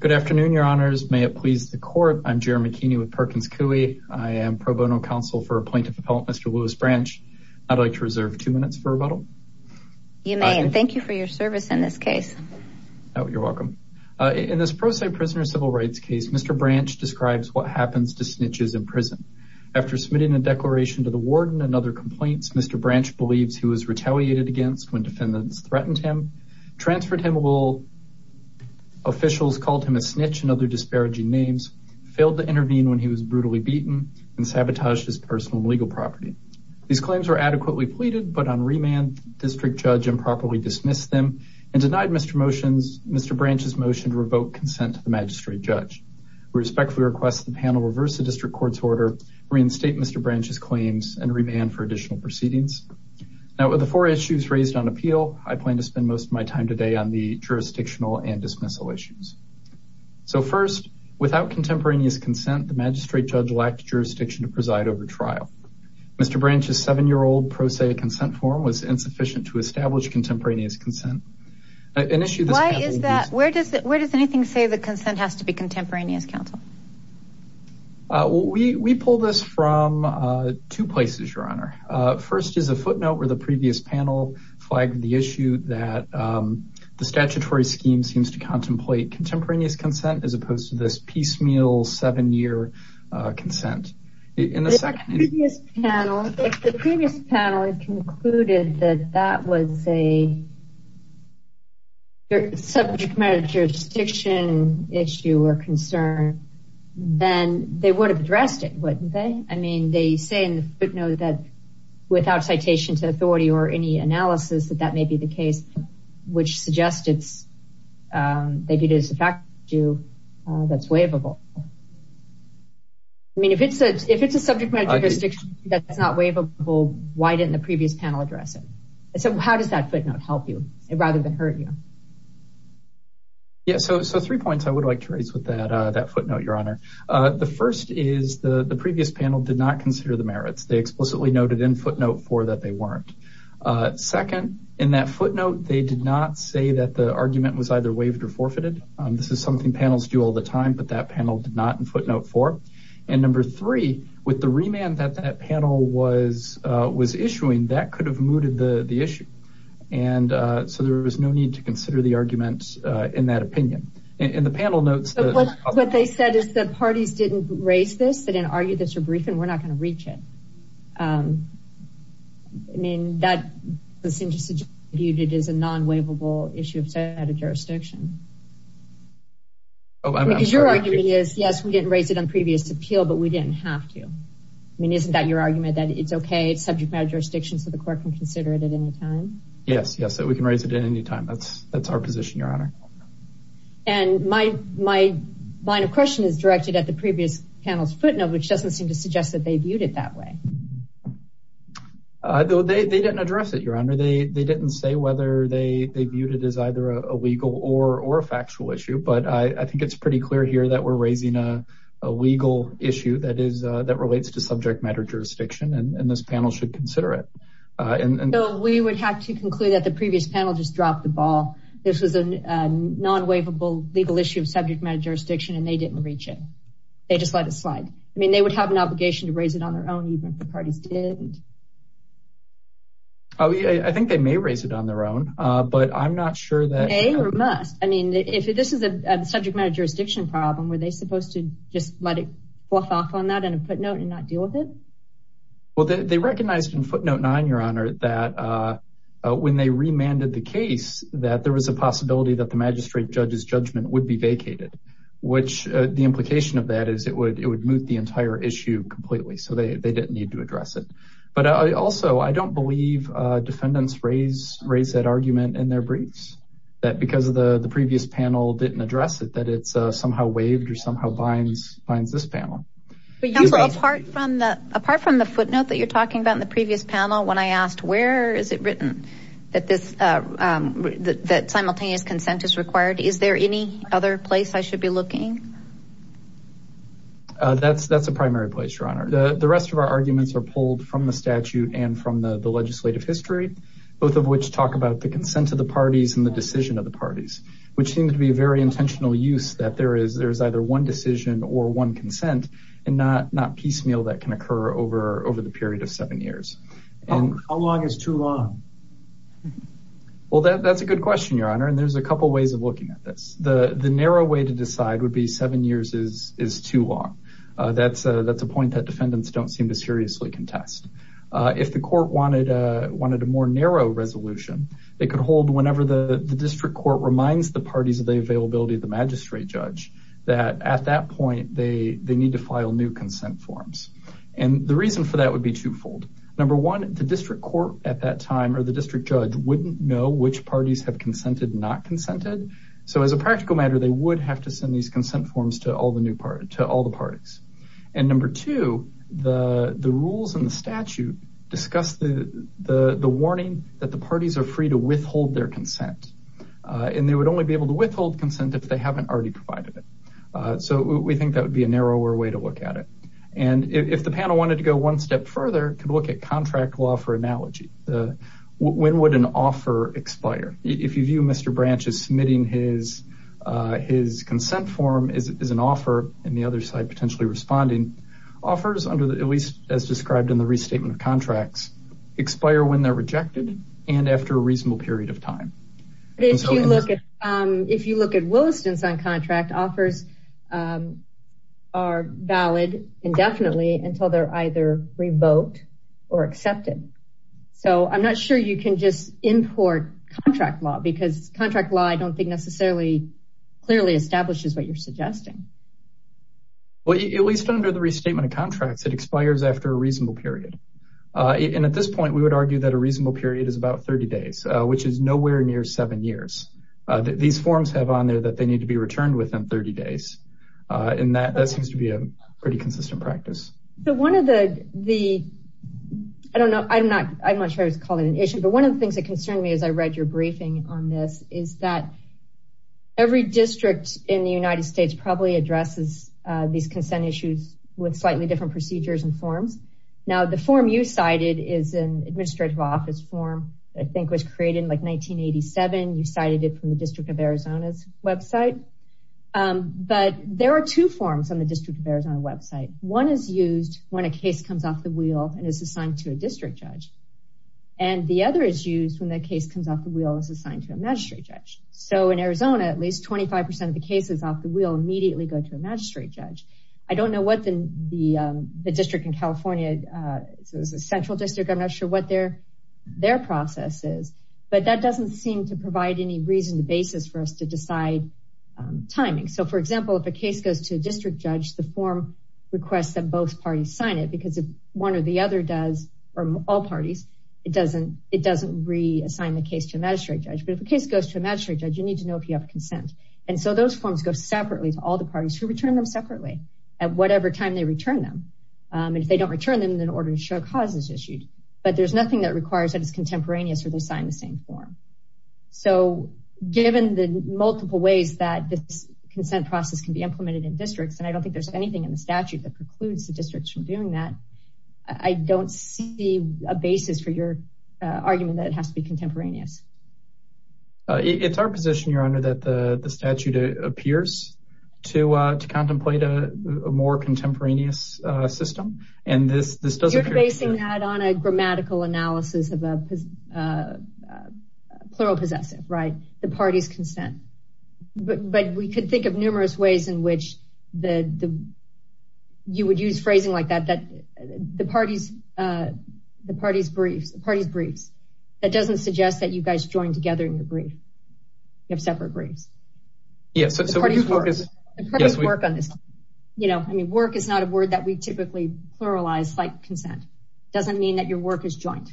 Good afternoon, your honors. May it please the court. I'm Jeremy Keeney with Perkins Coie. I am pro bono counsel for a plaintiff appellant, Mr. Louis Branch. I'd like to reserve two minutes for rebuttal. You may, and thank you for your service in this case. Oh, you're welcome. In this pro se prisoner civil rights case, Mr. Branch describes what happens to snitches in prison. After submitting a declaration to the warden and other complaints, Mr. Branch believes he was retaliated against when defendants threatened him, transferred him while officials called him a snitch and other disparaging names, failed to intervene when he was brutally beaten, and sabotaged his personal legal property. These claims were adequately pleaded, but on remand, district judge improperly dismissed them and denied Mr. Branch's motion to revoke consent to the magistrate judge. We respectfully request the panel reverse the district court's order, reinstate Mr. Branch's claims, and remand for the four issues raised on appeal. I plan to spend most of my time today on the jurisdictional and dismissal issues. So first, without contemporaneous consent, the magistrate judge lacked jurisdiction to preside over trial. Mr. Branch's seven-year-old pro se consent form was insufficient to establish contemporaneous consent. Why is that? Where does anything say the consent has to be contemporaneous counsel? We pulled this from two places, your honor. First is a footnote where the previous panel flagged the issue that the statutory scheme seems to contemplate contemporaneous consent as opposed to this piecemeal seven-year consent. The previous panel concluded that that was a subject matter jurisdiction issue or concern, then they would have addressed it, wouldn't they? I mean, they say in the footnote that without citation to authority or any analysis that that may be the case, which suggests it's, they did it as a fact that's waivable. I mean, if it's a subject matter jurisdiction that's not waivable, why didn't the previous panel address it? So how does that footnote help you rather than hurt you? Yeah, so three points I would like to raise with that footnote, your honor. The first is the previous panel did not consider the merits. They explicitly noted in footnote four that they weren't. Second, in that footnote, they did not say that the argument was either waived or forfeited. This is something panels do all the time, but that panel did not in footnote four. And number three, with the remand that that panel was issuing, that could have mooted the issue. And so there was no need to consider the arguments in that opinion. In the panel notes, what they said is the parties didn't raise this. They didn't argue this or brief, and we're not going to reach it. I mean, that seems to be viewed as a non-waivable issue of jurisdiction. Oh, I mean, because your argument is, yes, we didn't raise it on previous appeal, but we didn't have to. I mean, isn't that your argument that it's okay? It's subject matter jurisdiction. So the court can consider it at any time. Yes. Yes. So we can raise it at any time. That's our position, your honor. And my line of question is directed at the previous panel's footnote, which doesn't seem to suggest that they viewed it that way. They didn't address it, your honor. They didn't say whether they viewed it as either a legal or a factual issue. But I think it's pretty clear here that we're raising a legal issue that relates to subject matter jurisdiction. And this is a non-waivable legal issue of subject matter jurisdiction, and they didn't reach it. They just let it slide. I mean, they would have an obligation to raise it on their own, even if the parties didn't. I think they may raise it on their own, but I'm not sure that- They must. I mean, if this is a subject matter jurisdiction problem, were they supposed to just let it slide and not deal with it? Well, they recognized in footnote nine, your honor, that when they remanded the case, that there was a possibility that the magistrate judge's judgment would be vacated, which the implication of that is it would moot the entire issue completely. So they didn't need to address it. But also, I don't believe defendants raised that argument in their briefs, that because of the previous panel didn't address it, that it's a possibility. Apart from the footnote that you're talking about in the previous panel, when I asked where is it written that simultaneous consent is required, is there any other place I should be looking? That's a primary place, your honor. The rest of our arguments are pulled from the statute and from the legislative history, both of which talk about the consent of the parties and the decision of the parties, which seems to be a very intentional use that there is either one decision or one consent and not piecemeal that can occur over the period of seven years. How long is too long? Well, that's a good question, your honor. And there's a couple of ways of looking at this. The narrow way to decide would be seven years is too long. That's a point that defendants don't seem to seriously contest. If the court wanted a more narrow resolution, they could hold whenever the district court reminds the parties of the availability of the magistrate judge, that at that point, they need to file new consent forms. And the reason for that would be twofold. Number one, the district court at that time or the district judge wouldn't know which parties have consented, not consented. So as a practical matter, they would have to send these consent forms to all the parties. And number two, the rules and the statute discuss the warning that the parties are free to withhold their consent. And they would only be able to withhold consent if they haven't already provided it. So we think that would be a narrower way to look at it. And if the panel wanted to go one step further, could look at contract law for analogy. When would an offer expire? If you view Mr. Branch as submitting his consent form as an offer and the other side potentially responding, offers under the, at least as described in the restatement of contracts, expire when they're looking. If you look at Williston's on contract offers are valid indefinitely until they're either revoked or accepted. So I'm not sure you can just import contract law because contract law, I don't think necessarily clearly establishes what you're suggesting. Well, at least under the restatement of contracts, it expires after a reasonable period. And at this point, we would argue that a reasonable period is about 30 days, which is nowhere near seven years. These forms have on there that they need to be returned within 30 days. And that seems to be a pretty consistent practice. So one of the, I don't know, I'm not sure I would call it an issue, but one of the things that concerned me as I read your briefing on this is that every district in the United States probably addresses these consent issues with slightly different procedures and forms. Now, the form you cited is an administrative office form, I think was created in like 1987. You cited it from the district of Arizona's website. But there are two forms on the district of Arizona website. One is used when a case comes off the wheel and is assigned to a district judge. And the other is used when the case comes off the wheel is assigned to a magistrate judge. So in Arizona, at least 25% of the cases off the wheel immediately go to a magistrate judge. I don't know what the district in California, it's a central district, I'm not sure what their process is, but that doesn't seem to provide any reason to basis for us to decide timing. So for example, if a case goes to a district judge, the form requests that both parties sign it because if one or the other does, or all parties, it doesn't reassign the case to a magistrate judge. But if a case goes to a magistrate judge, you need to know if you have consent. And so those forms go separately to all the parties who return them separately at whatever time they return them. And if they don't return them, then an order to show cause is issued. But there's nothing that requires that it's contemporaneous or they sign the same form. So given the multiple ways that this consent process can be implemented in districts, and I don't think there's anything in the statute that precludes the districts from doing that, I don't see a basis for your argument that it has to be contemporaneous. It's our position, Your Honor, that the statute appears to contemplate a more contemporaneous system. You're basing that on a grammatical analysis of a plural possessive, right? The party's consent. But we could think of numerous ways in which you would use phrasing like that, the party's briefs. That doesn't suggest that you guys join together in the brief. You have separate briefs. Yes, so we do focus on this. You know, I mean, work is not a word that we typically pluralize like consent. It doesn't mean that your work is joint.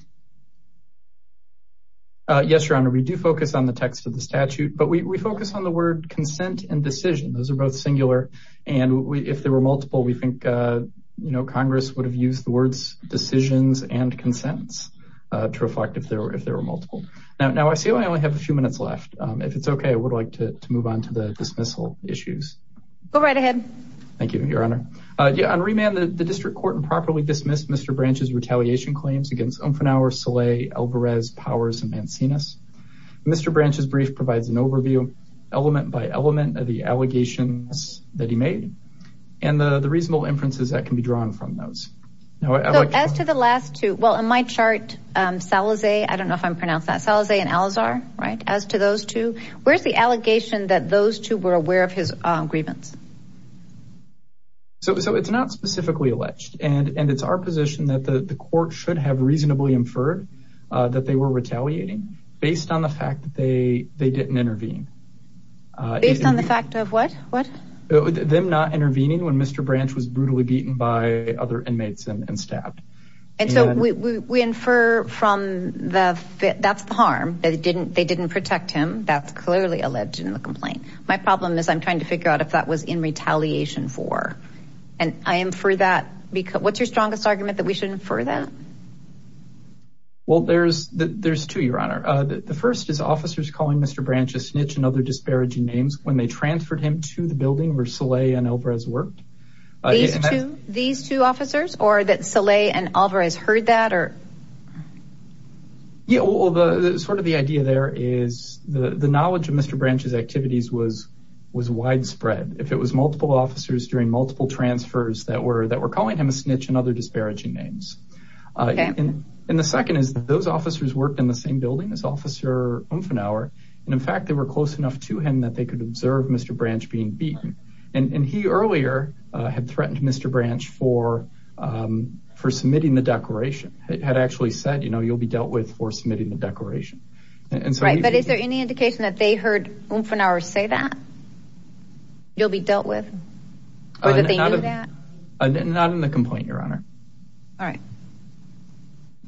Yes, Your Honor, we do focus on the text of the statute, but we focus on the word consent and decision. Those are both singular. And if there were multiple, we think, you know, Congress would have used the words decisions and consents to reflect if there were multiple. Now I see I only have a few minutes left. If it's okay, I would like to move on to the dismissal issues. Go right ahead. Thank you, Your Honor. On remand, the district court improperly dismissed Mr. Branch's retaliation claims against Umfenauer, Soleil, Alvarez, Powers, and Mancinas. Mr. Branch's brief provides an overview element by element of the allegations that he made, and the reasonable inferences that can be drawn from those. As to the last two, well, in my chart, Salazay, I don't know if I'm pronounced that, Salazay and Al-Azhar, right? As to those two, where's the allegation that those two were aware of his grievance? So it's not specifically alleged, and it's our position that the court should have based on the fact that they didn't intervene. Based on the fact of what? Them not intervening when Mr. Branch was brutally beaten by other inmates and stabbed. And so we infer from that that's the harm. They didn't protect him. That's clearly alleged in the complaint. My problem is I'm trying to figure out if that was in retaliation for, and I am for that. What's your strongest argument that we should infer that? Well, there's two, Your Honor. The first is officers calling Mr. Branch a snitch and other disparaging names when they transferred him to the building where Salazay and Alvarez worked. These two officers, or that Salazay and Alvarez heard that, or? Yeah, well, sort of the idea there is the knowledge of Mr. Branch's activities was widespread. If it was multiple officers during multiple transfers that were calling him a snitch and other disparaging names. And the second is that those officers worked in the same building as Officer Umfenauer. And in fact, they were close enough to him that they could observe Mr. Branch being beaten. And he earlier had threatened Mr. Branch for submitting the declaration. Had actually said, you know, you'll be dealt with for submitting the declaration. But is there any indication that they heard Umfenauer say that? You'll be dealt with? Or did they do that? Not in the complaint, Your Honor. All right.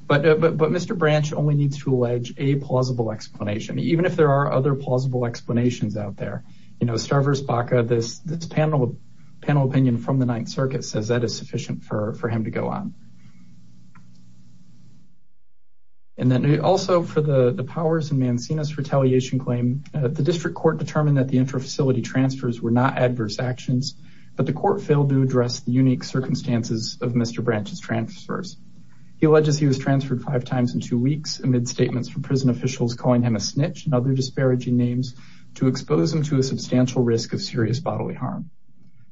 But Mr. Branch only needs to allege a plausible explanation, even if there are other plausible explanations out there. You know, Starburst Baca, this panel opinion from the Ninth Circuit says that is sufficient for him to go on. And then also for the Powers and Mancinas retaliation claim, the district court determined that the intra-facility transfers were not adverse actions, but the court failed to address the unique circumstances of Mr. Branch's transfers. He alleges he was transferred five times in two weeks amid statements from prison officials calling him a snitch and other disparaging names to expose him to a substantial risk of serious bodily harm.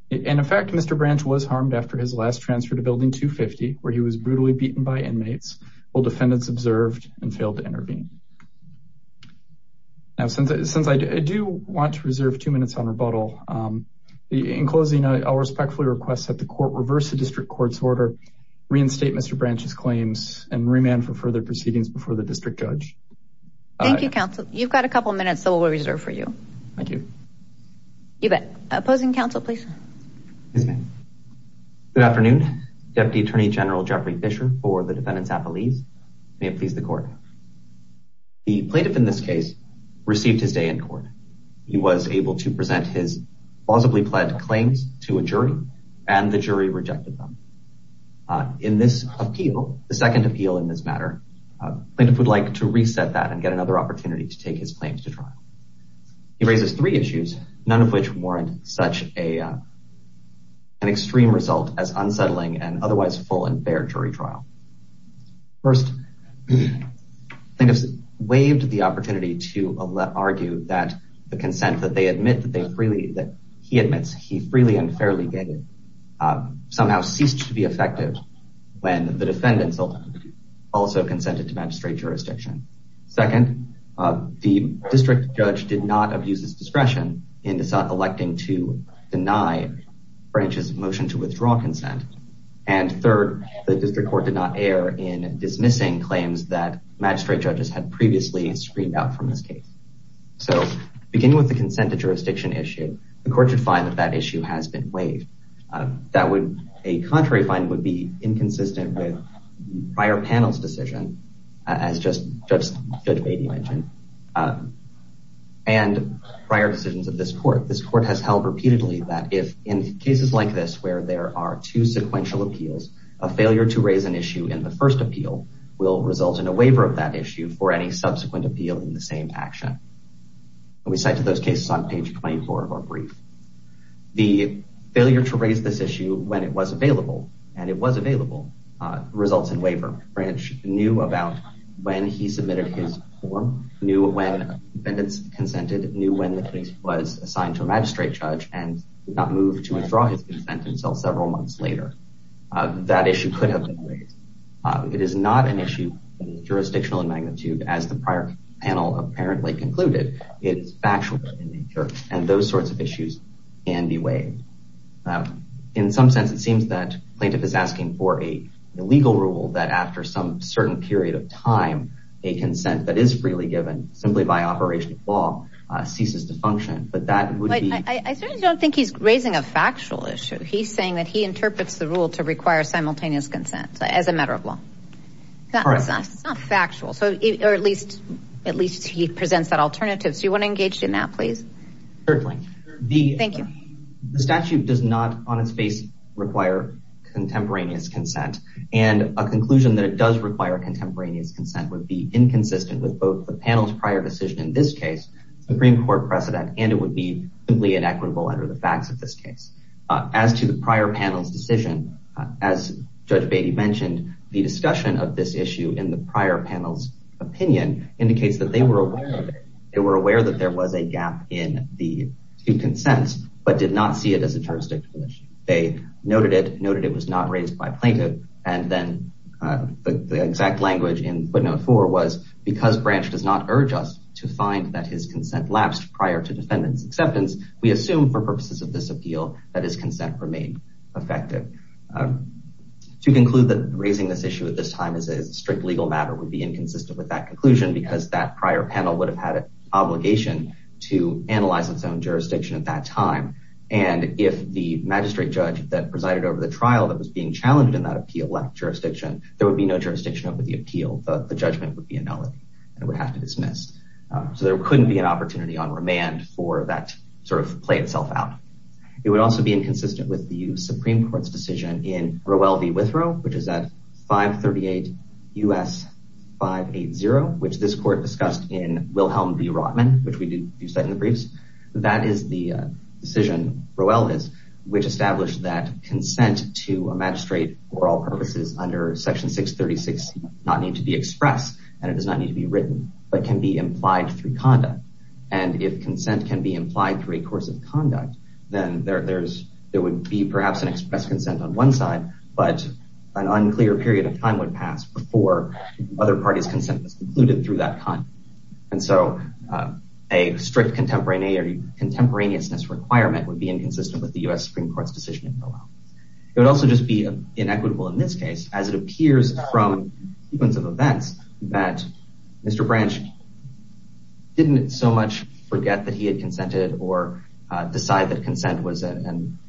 And in fact, Mr. Branch was harmed after his last transfer to Building 250, where he was brutally beaten by inmates while defendants observed and failed to intervene. Now, since I do want to reserve two minutes on rebuttal, in closing, I'll respectfully request that the court reverse the district court's order, reinstate Mr. Branch's claims, and remand for further proceedings before the district judge. Thank you, counsel. You've got a couple minutes, so we'll reserve for you. Thank you. You bet. Opposing counsel, please. Good afternoon. Deputy Attorney General Jeffrey Fischer for the defendants' affilies. May it please the court. The plaintiff in this case received his day in court. He was able to present his plausibly pled claims to a jury, and the jury rejected them. In this appeal, the second appeal in this matter, plaintiff would like to reset that and get another opportunity to take his claims to trial. He raises three issues, none of which warrant such an extreme result as first, plaintiffs waived the opportunity to argue that the consent that they admit that he admits he freely and fairly gave somehow ceased to be effective when the defendants also consented to magistrate jurisdiction. Second, the district judge did not abuse his discretion in electing to deny Branch's motion to withdraw consent. And third, the district court did not in dismissing claims that magistrate judges had previously screened out from this case. So, beginning with the consent to jurisdiction issue, the court should find that that issue has been waived. That would, a contrary finding would be inconsistent with prior panel's decision, as Judge Beatty mentioned, and prior decisions of this court. This court has held repeatedly that if in cases like this, where there are two sequential appeals, a failure to raise an appeal will result in a waiver of that issue for any subsequent appeal in the same action. We cite those cases on page 24 of our brief. The failure to raise this issue when it was available, and it was available, results in waiver. Branch knew about when he submitted his form, knew when defendants consented, knew when the case was assigned to a magistrate judge, and did not move to withdraw his consent until several months later. That issue could have been it is not an issue jurisdictional in magnitude as the prior panel apparently concluded. It's factual in nature, and those sorts of issues can be waived. In some sense, it seems that plaintiff is asking for a legal rule that after some certain period of time, a consent that is freely given simply by operation of law ceases to function, but that would be... I certainly don't think he's raising a factual issue. He's saying that he interprets the rule to require simultaneous consent as a matter of law. That's not factual, or at least he presents that alternative. Do you want to engage in that, please? Certainly. Thank you. The statute does not on its face require contemporaneous consent, and a conclusion that it does require contemporaneous consent would be inconsistent with both the panel's prior decision in this case, Supreme Court precedent, and it would be simply inequitable under the facts of this case. As to the prior panel's decision, as Judge Beatty mentioned, the discussion of this issue in the prior panel's opinion indicates that they were aware of it. They were aware that there was a gap in the two consents, but did not see it as a jurisdictional issue. They noted it, noted it was not raised by plaintiff, and then the exact language in footnote four was, because Branch does not urge us to find that his consent lapsed prior to defendant's acceptance, we assume for purposes of this appeal that his consent remained effective. To conclude that raising this issue at this time is a strict legal matter would be inconsistent with that conclusion, because that prior panel would have had an obligation to analyze its own jurisdiction at that time, and if the magistrate judge that presided over the trial that was being challenged in that appeal left jurisdiction, there would be no jurisdiction over the appeal. The judgment would be annulled, and it would have to dismiss. So there couldn't be an opportunity on remand for that to sort of play itself out. It would also be inconsistent with the Supreme Court's decision in Rowell v. Withrow, which is at 538 U.S. 580, which this court discussed in Wilhelm v. Rotman, which we did use that in the briefs. That is the decision Rowell is, which established that consent to a magistrate for all purposes under section 636 not need to be expressed, and it does not need to be written, but can be implied through conduct, and if consent can be implied through a course of conduct, then there would be perhaps an express consent on one side, but an unclear period of time would pass before other parties' consent was concluded through that conduct, and so a strict contemporaneousness requirement would be inconsistent with the U.S. Supreme Court's decision in Rowell. It would also just be inequitable in this case, as it or decide that consent was a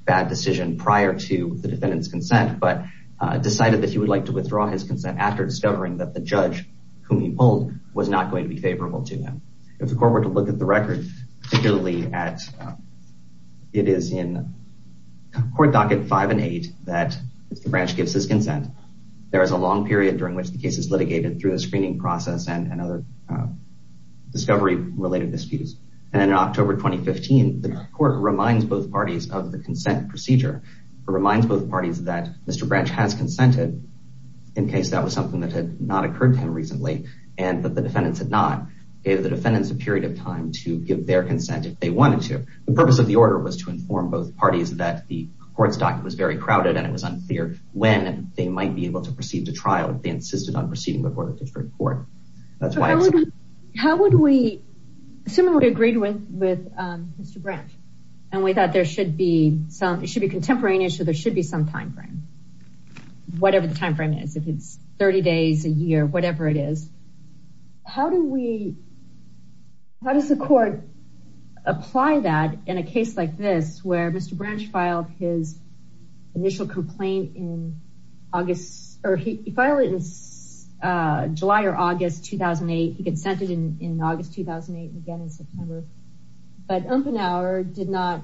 bad decision prior to the defendant's consent, but decided that he would like to withdraw his consent after discovering that the judge whom he pulled was not going to be favorable to him. If the court were to look at the record, particularly at, it is in court docket five and eight that the branch gives his consent. There is a long period during which the case is litigated through the screening process and other discovery-related disputes, and in October 2015, the court reminds both parties of the consent procedure. It reminds both parties that Mr. Branch has consented, in case that was something that had not occurred to him recently, and that the defendants had not. It gave the defendants a period of time to give their consent if they wanted to. The purpose of the order was to inform both parties that the court's docket was very crowded, and it was unclear when they might be able to proceed to trial if they insisted on proceeding before the different court. How would we, assuming we agreed with Mr. Branch, and we thought there should be some, it should be a contemporary issue, there should be some time frame, whatever the time frame is. If it's 30 days, a year, whatever it is, how do we, how does the court apply that in a case like this, where Mr. Branch filed his initial complaint in August, or he filed it in July or August 2008, he consented in August 2008 and again in September, but Umpenhower did not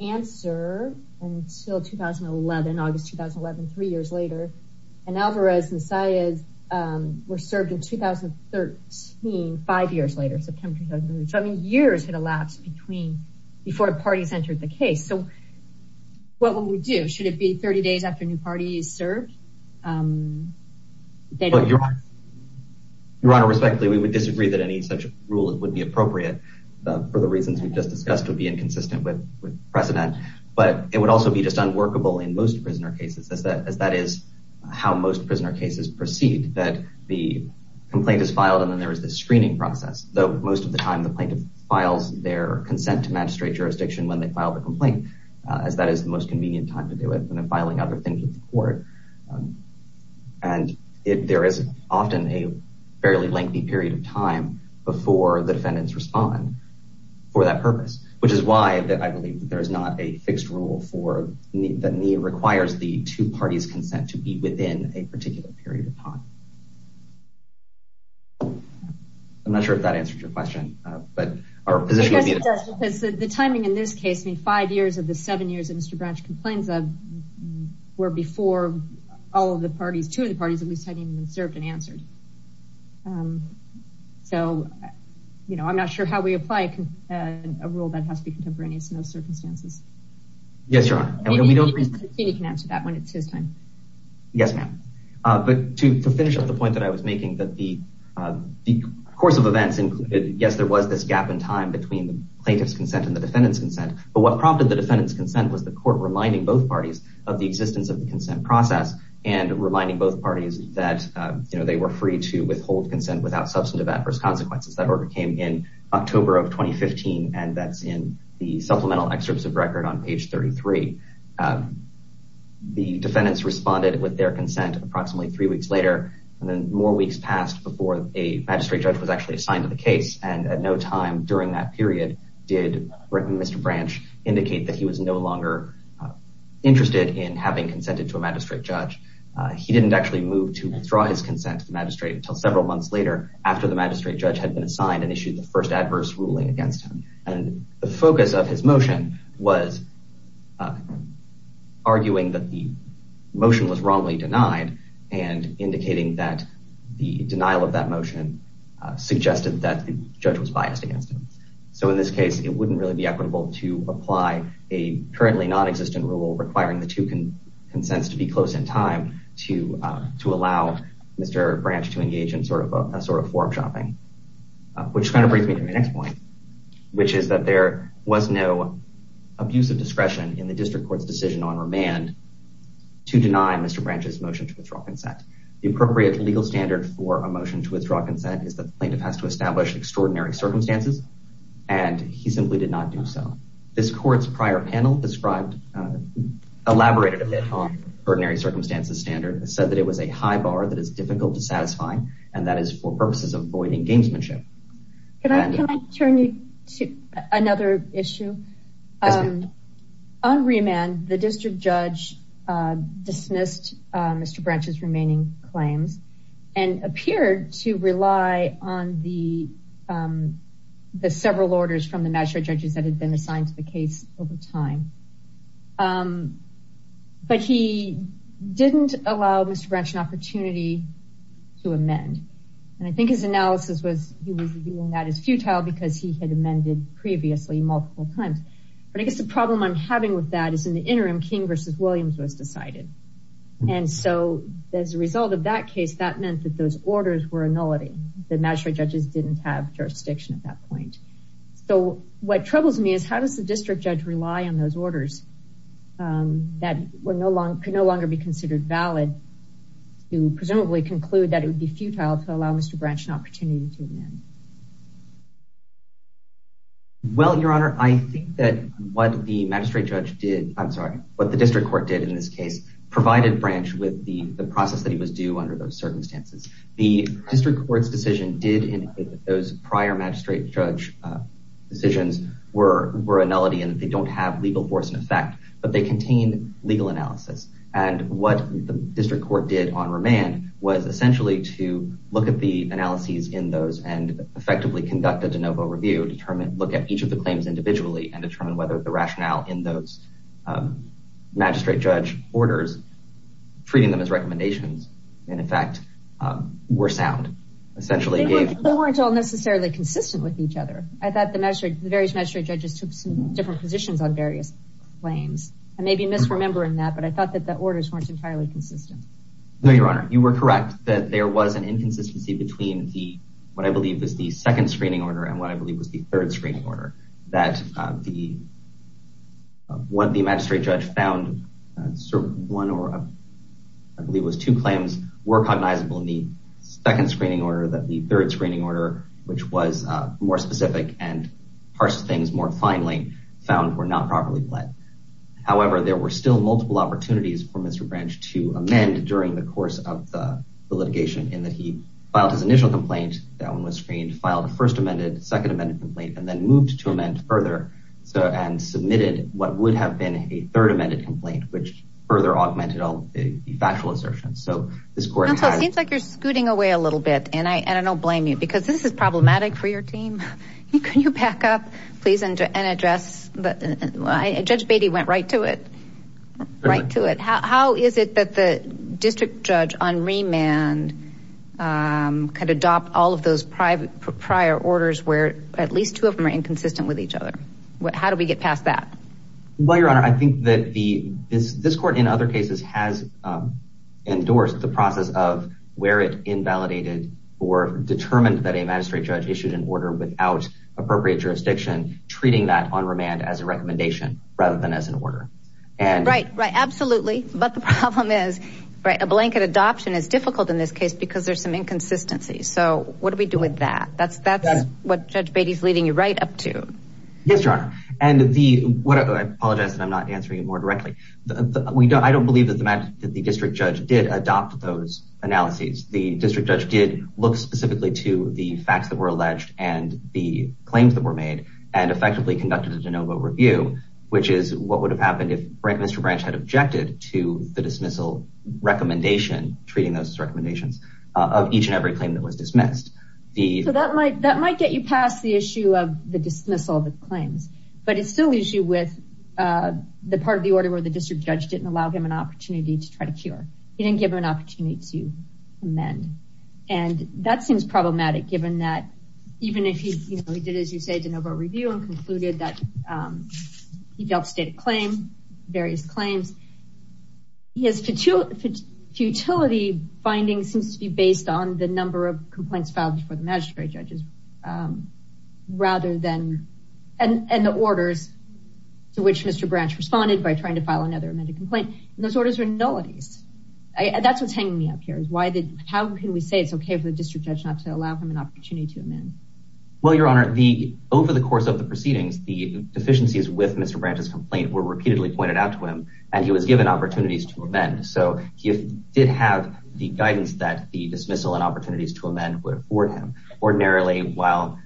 answer until 2011, August 2011, three years later, and Alvarez and Saez were served in 2013, five years later, so I mean, years had elapsed between, before parties entered the case, so what would we do? Should it be 30 days after a new party is served? Your Honor, respectfully, we would disagree that any such rule would be appropriate, for the reasons we've just discussed would be inconsistent with precedent, but it would also be just unworkable in most prisoner cases, as that is how most prisoner cases proceed, that the complaint is filed and then there is this screening process, though most of the time the plaintiff files their consent to magistrate jurisdiction when they file the complaint, as that is the most convenient time to do it, than filing other things with the court, and there is often a fairly lengthy period of time before the defendants respond for that purpose, which is why I believe that there is not a fixed rule for, that requires the two parties' consent to be within a particular period of time. I'm not sure if that answers your question, but our position would be that... Yes, it does, because the timing in this case, I mean, five years of the seven years that Mr. Branch complains of, were before all of the parties, two of the parties, at least, had even been served and answered, so, you know, I'm not sure how we apply a rule that has to be contemporaneous in those circumstances. Yes, Your Honor, and we don't... Katie can answer that when it's his time. Yes, ma'am, but to finish up the point that I was making, that the course of events, yes, there was this gap in time between the plaintiff's consent and the defendant's consent, but what prompted the defendant's consent was the court reminding both parties of the existence of the consent process and reminding both parties that, you know, they were free to withhold consent without substantive adverse consequences. That order came in October of 2015, and that's in the supplemental excerpts of record on page 33. The defendants responded with their consent approximately three weeks later, and then more weeks passed before a magistrate judge was actually assigned to the case, and at no time during that period did Mr. Branch indicate that he was no longer interested in having consented to a magistrate judge. He didn't actually move to withdraw his consent to the magistrate until several months later, after the magistrate judge had been assigned and issued the first adverse ruling against him, and the focus of his motion was arguing that the motion was wrongly denied and indicating that the denial of that motion suggested that the judge was biased against him. So in this case, it wouldn't really be equitable to apply a currently non-existent rule requiring the two forum shopping, which kind of brings me to my next point, which is that there was no abuse of discretion in the district court's decision on remand to deny Mr. Branch's motion to withdraw consent. The appropriate legal standard for a motion to withdraw consent is that the plaintiff has to establish extraordinary circumstances, and he simply did not do so. This court's prior panel described, elaborated a bit on ordinary circumstances standard, said that it was a high bar that is difficult to satisfy, and that is for purposes of avoiding gamesmanship. Can I turn you to another issue? On remand, the district judge dismissed Mr. Branch's remaining claims and appeared to rely on the several orders from the magistrate judges that Mr. Branch had an opportunity to amend. And I think his analysis was he was viewing that as futile because he had amended previously multiple times. But I guess the problem I'm having with that is in the interim, King versus Williams was decided. And so as a result of that case, that meant that those orders were nullity. The magistrate judges didn't have jurisdiction at that point. So what troubles me is how does the district judge rely on those orders that could no longer be considered valid to presumably conclude that it would be futile to allow Mr. Branch an opportunity to amend? Well, Your Honor, I think that what the magistrate judge did, I'm sorry, what the district court did in this case provided Branch with the process that he was due under those circumstances. The district court's decision did indicate that those prior magistrate judge decisions were a nullity and that they don't have legal force in effect, but they contain legal analysis. And what the district court did on remand was essentially to look at the analyses in those and effectively conduct a de novo review, look at each of the claims individually, and determine whether the rationale in those magistrate judge orders, treating them as recommendations, in effect, were sound. They weren't all necessarily consistent with each other. I thought the various magistrate judges took some different positions on various claims. I may be misremembering that, but I thought that the orders weren't entirely consistent. No, Your Honor. You were correct that there was an inconsistency between what I believe was the second screening order and what I believe was the third screening order. That what the magistrate judge found, I believe it was two claims were cognizable in the second screening order that the third screening order, which was more specific and parsed things more finely, found were not properly led. However, there were still multiple opportunities for Mr. Branch to amend during the course of the litigation in that he filed his initial complaint, that one was screened, filed a first amended, second amended complaint, and then moved to amend further and submitted what would have been a third amended complaint, which further augmented all the factual assertions. So this court has... It seems like you're scooting away a little bit, and I don't blame you because this is problematic for your team. Can you back up, please, and address... Judge Beatty went right to it. Right to it. How is it that the district judge on remand could adopt all of those prior orders where at least two of them are inconsistent with each other? How do we get past that? Well, Your Honor, I think that this court in other cases has endorsed the process of where it invalidated or determined that a magistrate judge issued an order without appropriate jurisdiction, treating that on remand as a recommendation rather than as an order. Right, right. Absolutely. But the problem is a blanket adoption is difficult in this case because there's some inconsistency. So what do we do with that? That's what Judge Beatty's leading you right up to. Yes, Your Honor. And the... I apologize that I'm not answering it more directly. I don't believe that the district judge did adopt those analyses. The district judge did look specifically to the facts that were alleged and the claims that were made and effectively conducted a de novo review, which is what would have happened if Mr. Branch had objected to the dismissal recommendation, treating those as recommendations, of each and every claim that was dismissed. So that might get you past the issue of the dismissal of the claims, but it still leaves you with the part of the order where the district judge didn't allow him an opportunity to try to cure. He didn't give him an opportunity to amend. And that seems problematic given that even if he did, as you say, de novo review and concluded that he dealt state of claim, various claims, his futility finding seems to be based on the number of complaints filed for the magistrate judges rather than... And the orders to which Mr. Branch responded by trying to file another amended complaint. And those orders are nullities. That's what's hanging me up here. How can we say it's okay for the district judge not to allow him an opportunity to amend? Well, Your Honor, over the course of the proceedings, the deficiencies with Mr. Branch's complaint were repeatedly pointed out to him and he was given opportunities to amend. So he did have the guidance that the dismissal and opportunities to amend would afford him. Ordinarily, while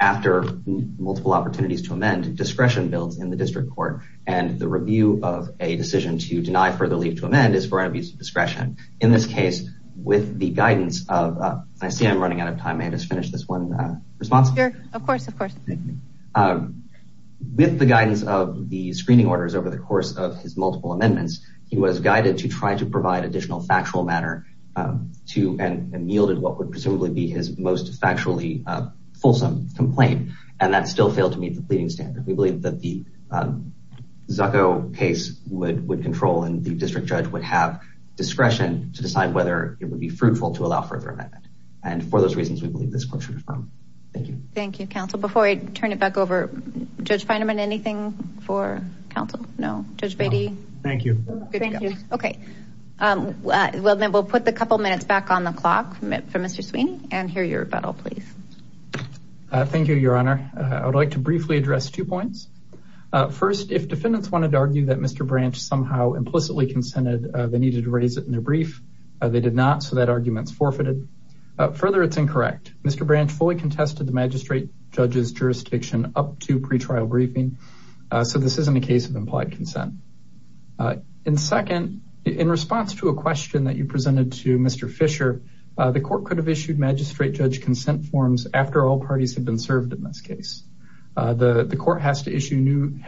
after multiple opportunities to amend, discretion builds in the district court and the review of a decision to deny further leave to amend is for an abuse of discretion. In this case, with the guidance of... I see I'm running out of time. May I just finish this one response? Sure, of course, of course. Thank you. With the guidance of the screening orders over the course of his multiple amendments, he was guided to try to provide additional factual matter to and yielded what would presumably be his most factually fulsome complaint. And that still failed to meet the pleading standard. We believe that the Zucco case would control and the district judge would have discretion to decide whether it would be fruitful to allow further amendment. And for those reasons, we believe this court should affirm. Thank you. Thank you, counsel. Before I turn it back over, Judge Feinemann, anything for counsel? No? Judge Beatty? Thank you. Okay. Well, then we'll put the couple minutes back on the clock for Mr. Sweeney and hear your rebuttal, please. Thank you, Your Honor. I would like to briefly address two points. First, if defendants wanted to argue that Mr. Branch somehow implicitly consented, they needed to raise it in their brief. They did not, so that argument is forfeited. Further, it's incorrect. Mr. Branch fully contested the magistrate judge's jurisdiction up to pretrial briefing, so this isn't a case of implied consent. And second, in response to a question that you presented to Mr. Fisher, the court could have issued magistrate judge consent forms after all parties had been served in this case. The court had to issue new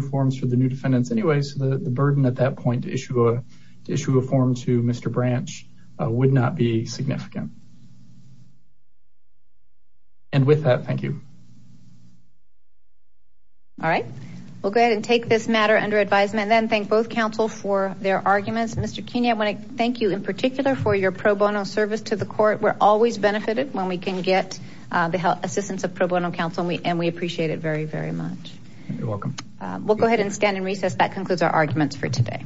forms for the new defendants anyway, so the burden at that point to issue a form to Mr. Branch would not be significant. And with that, thank you. All right. We'll go ahead and take this matter under advisement, and then thank both counsel for their arguments. Mr. Kenia, I want to thank you in particular for your pro bono service to the court. We're always benefited when we can get the assistance of pro bono counsel, and we appreciate it very, very much. You're welcome. We'll go ahead and stand in recess. That concludes our arguments for today.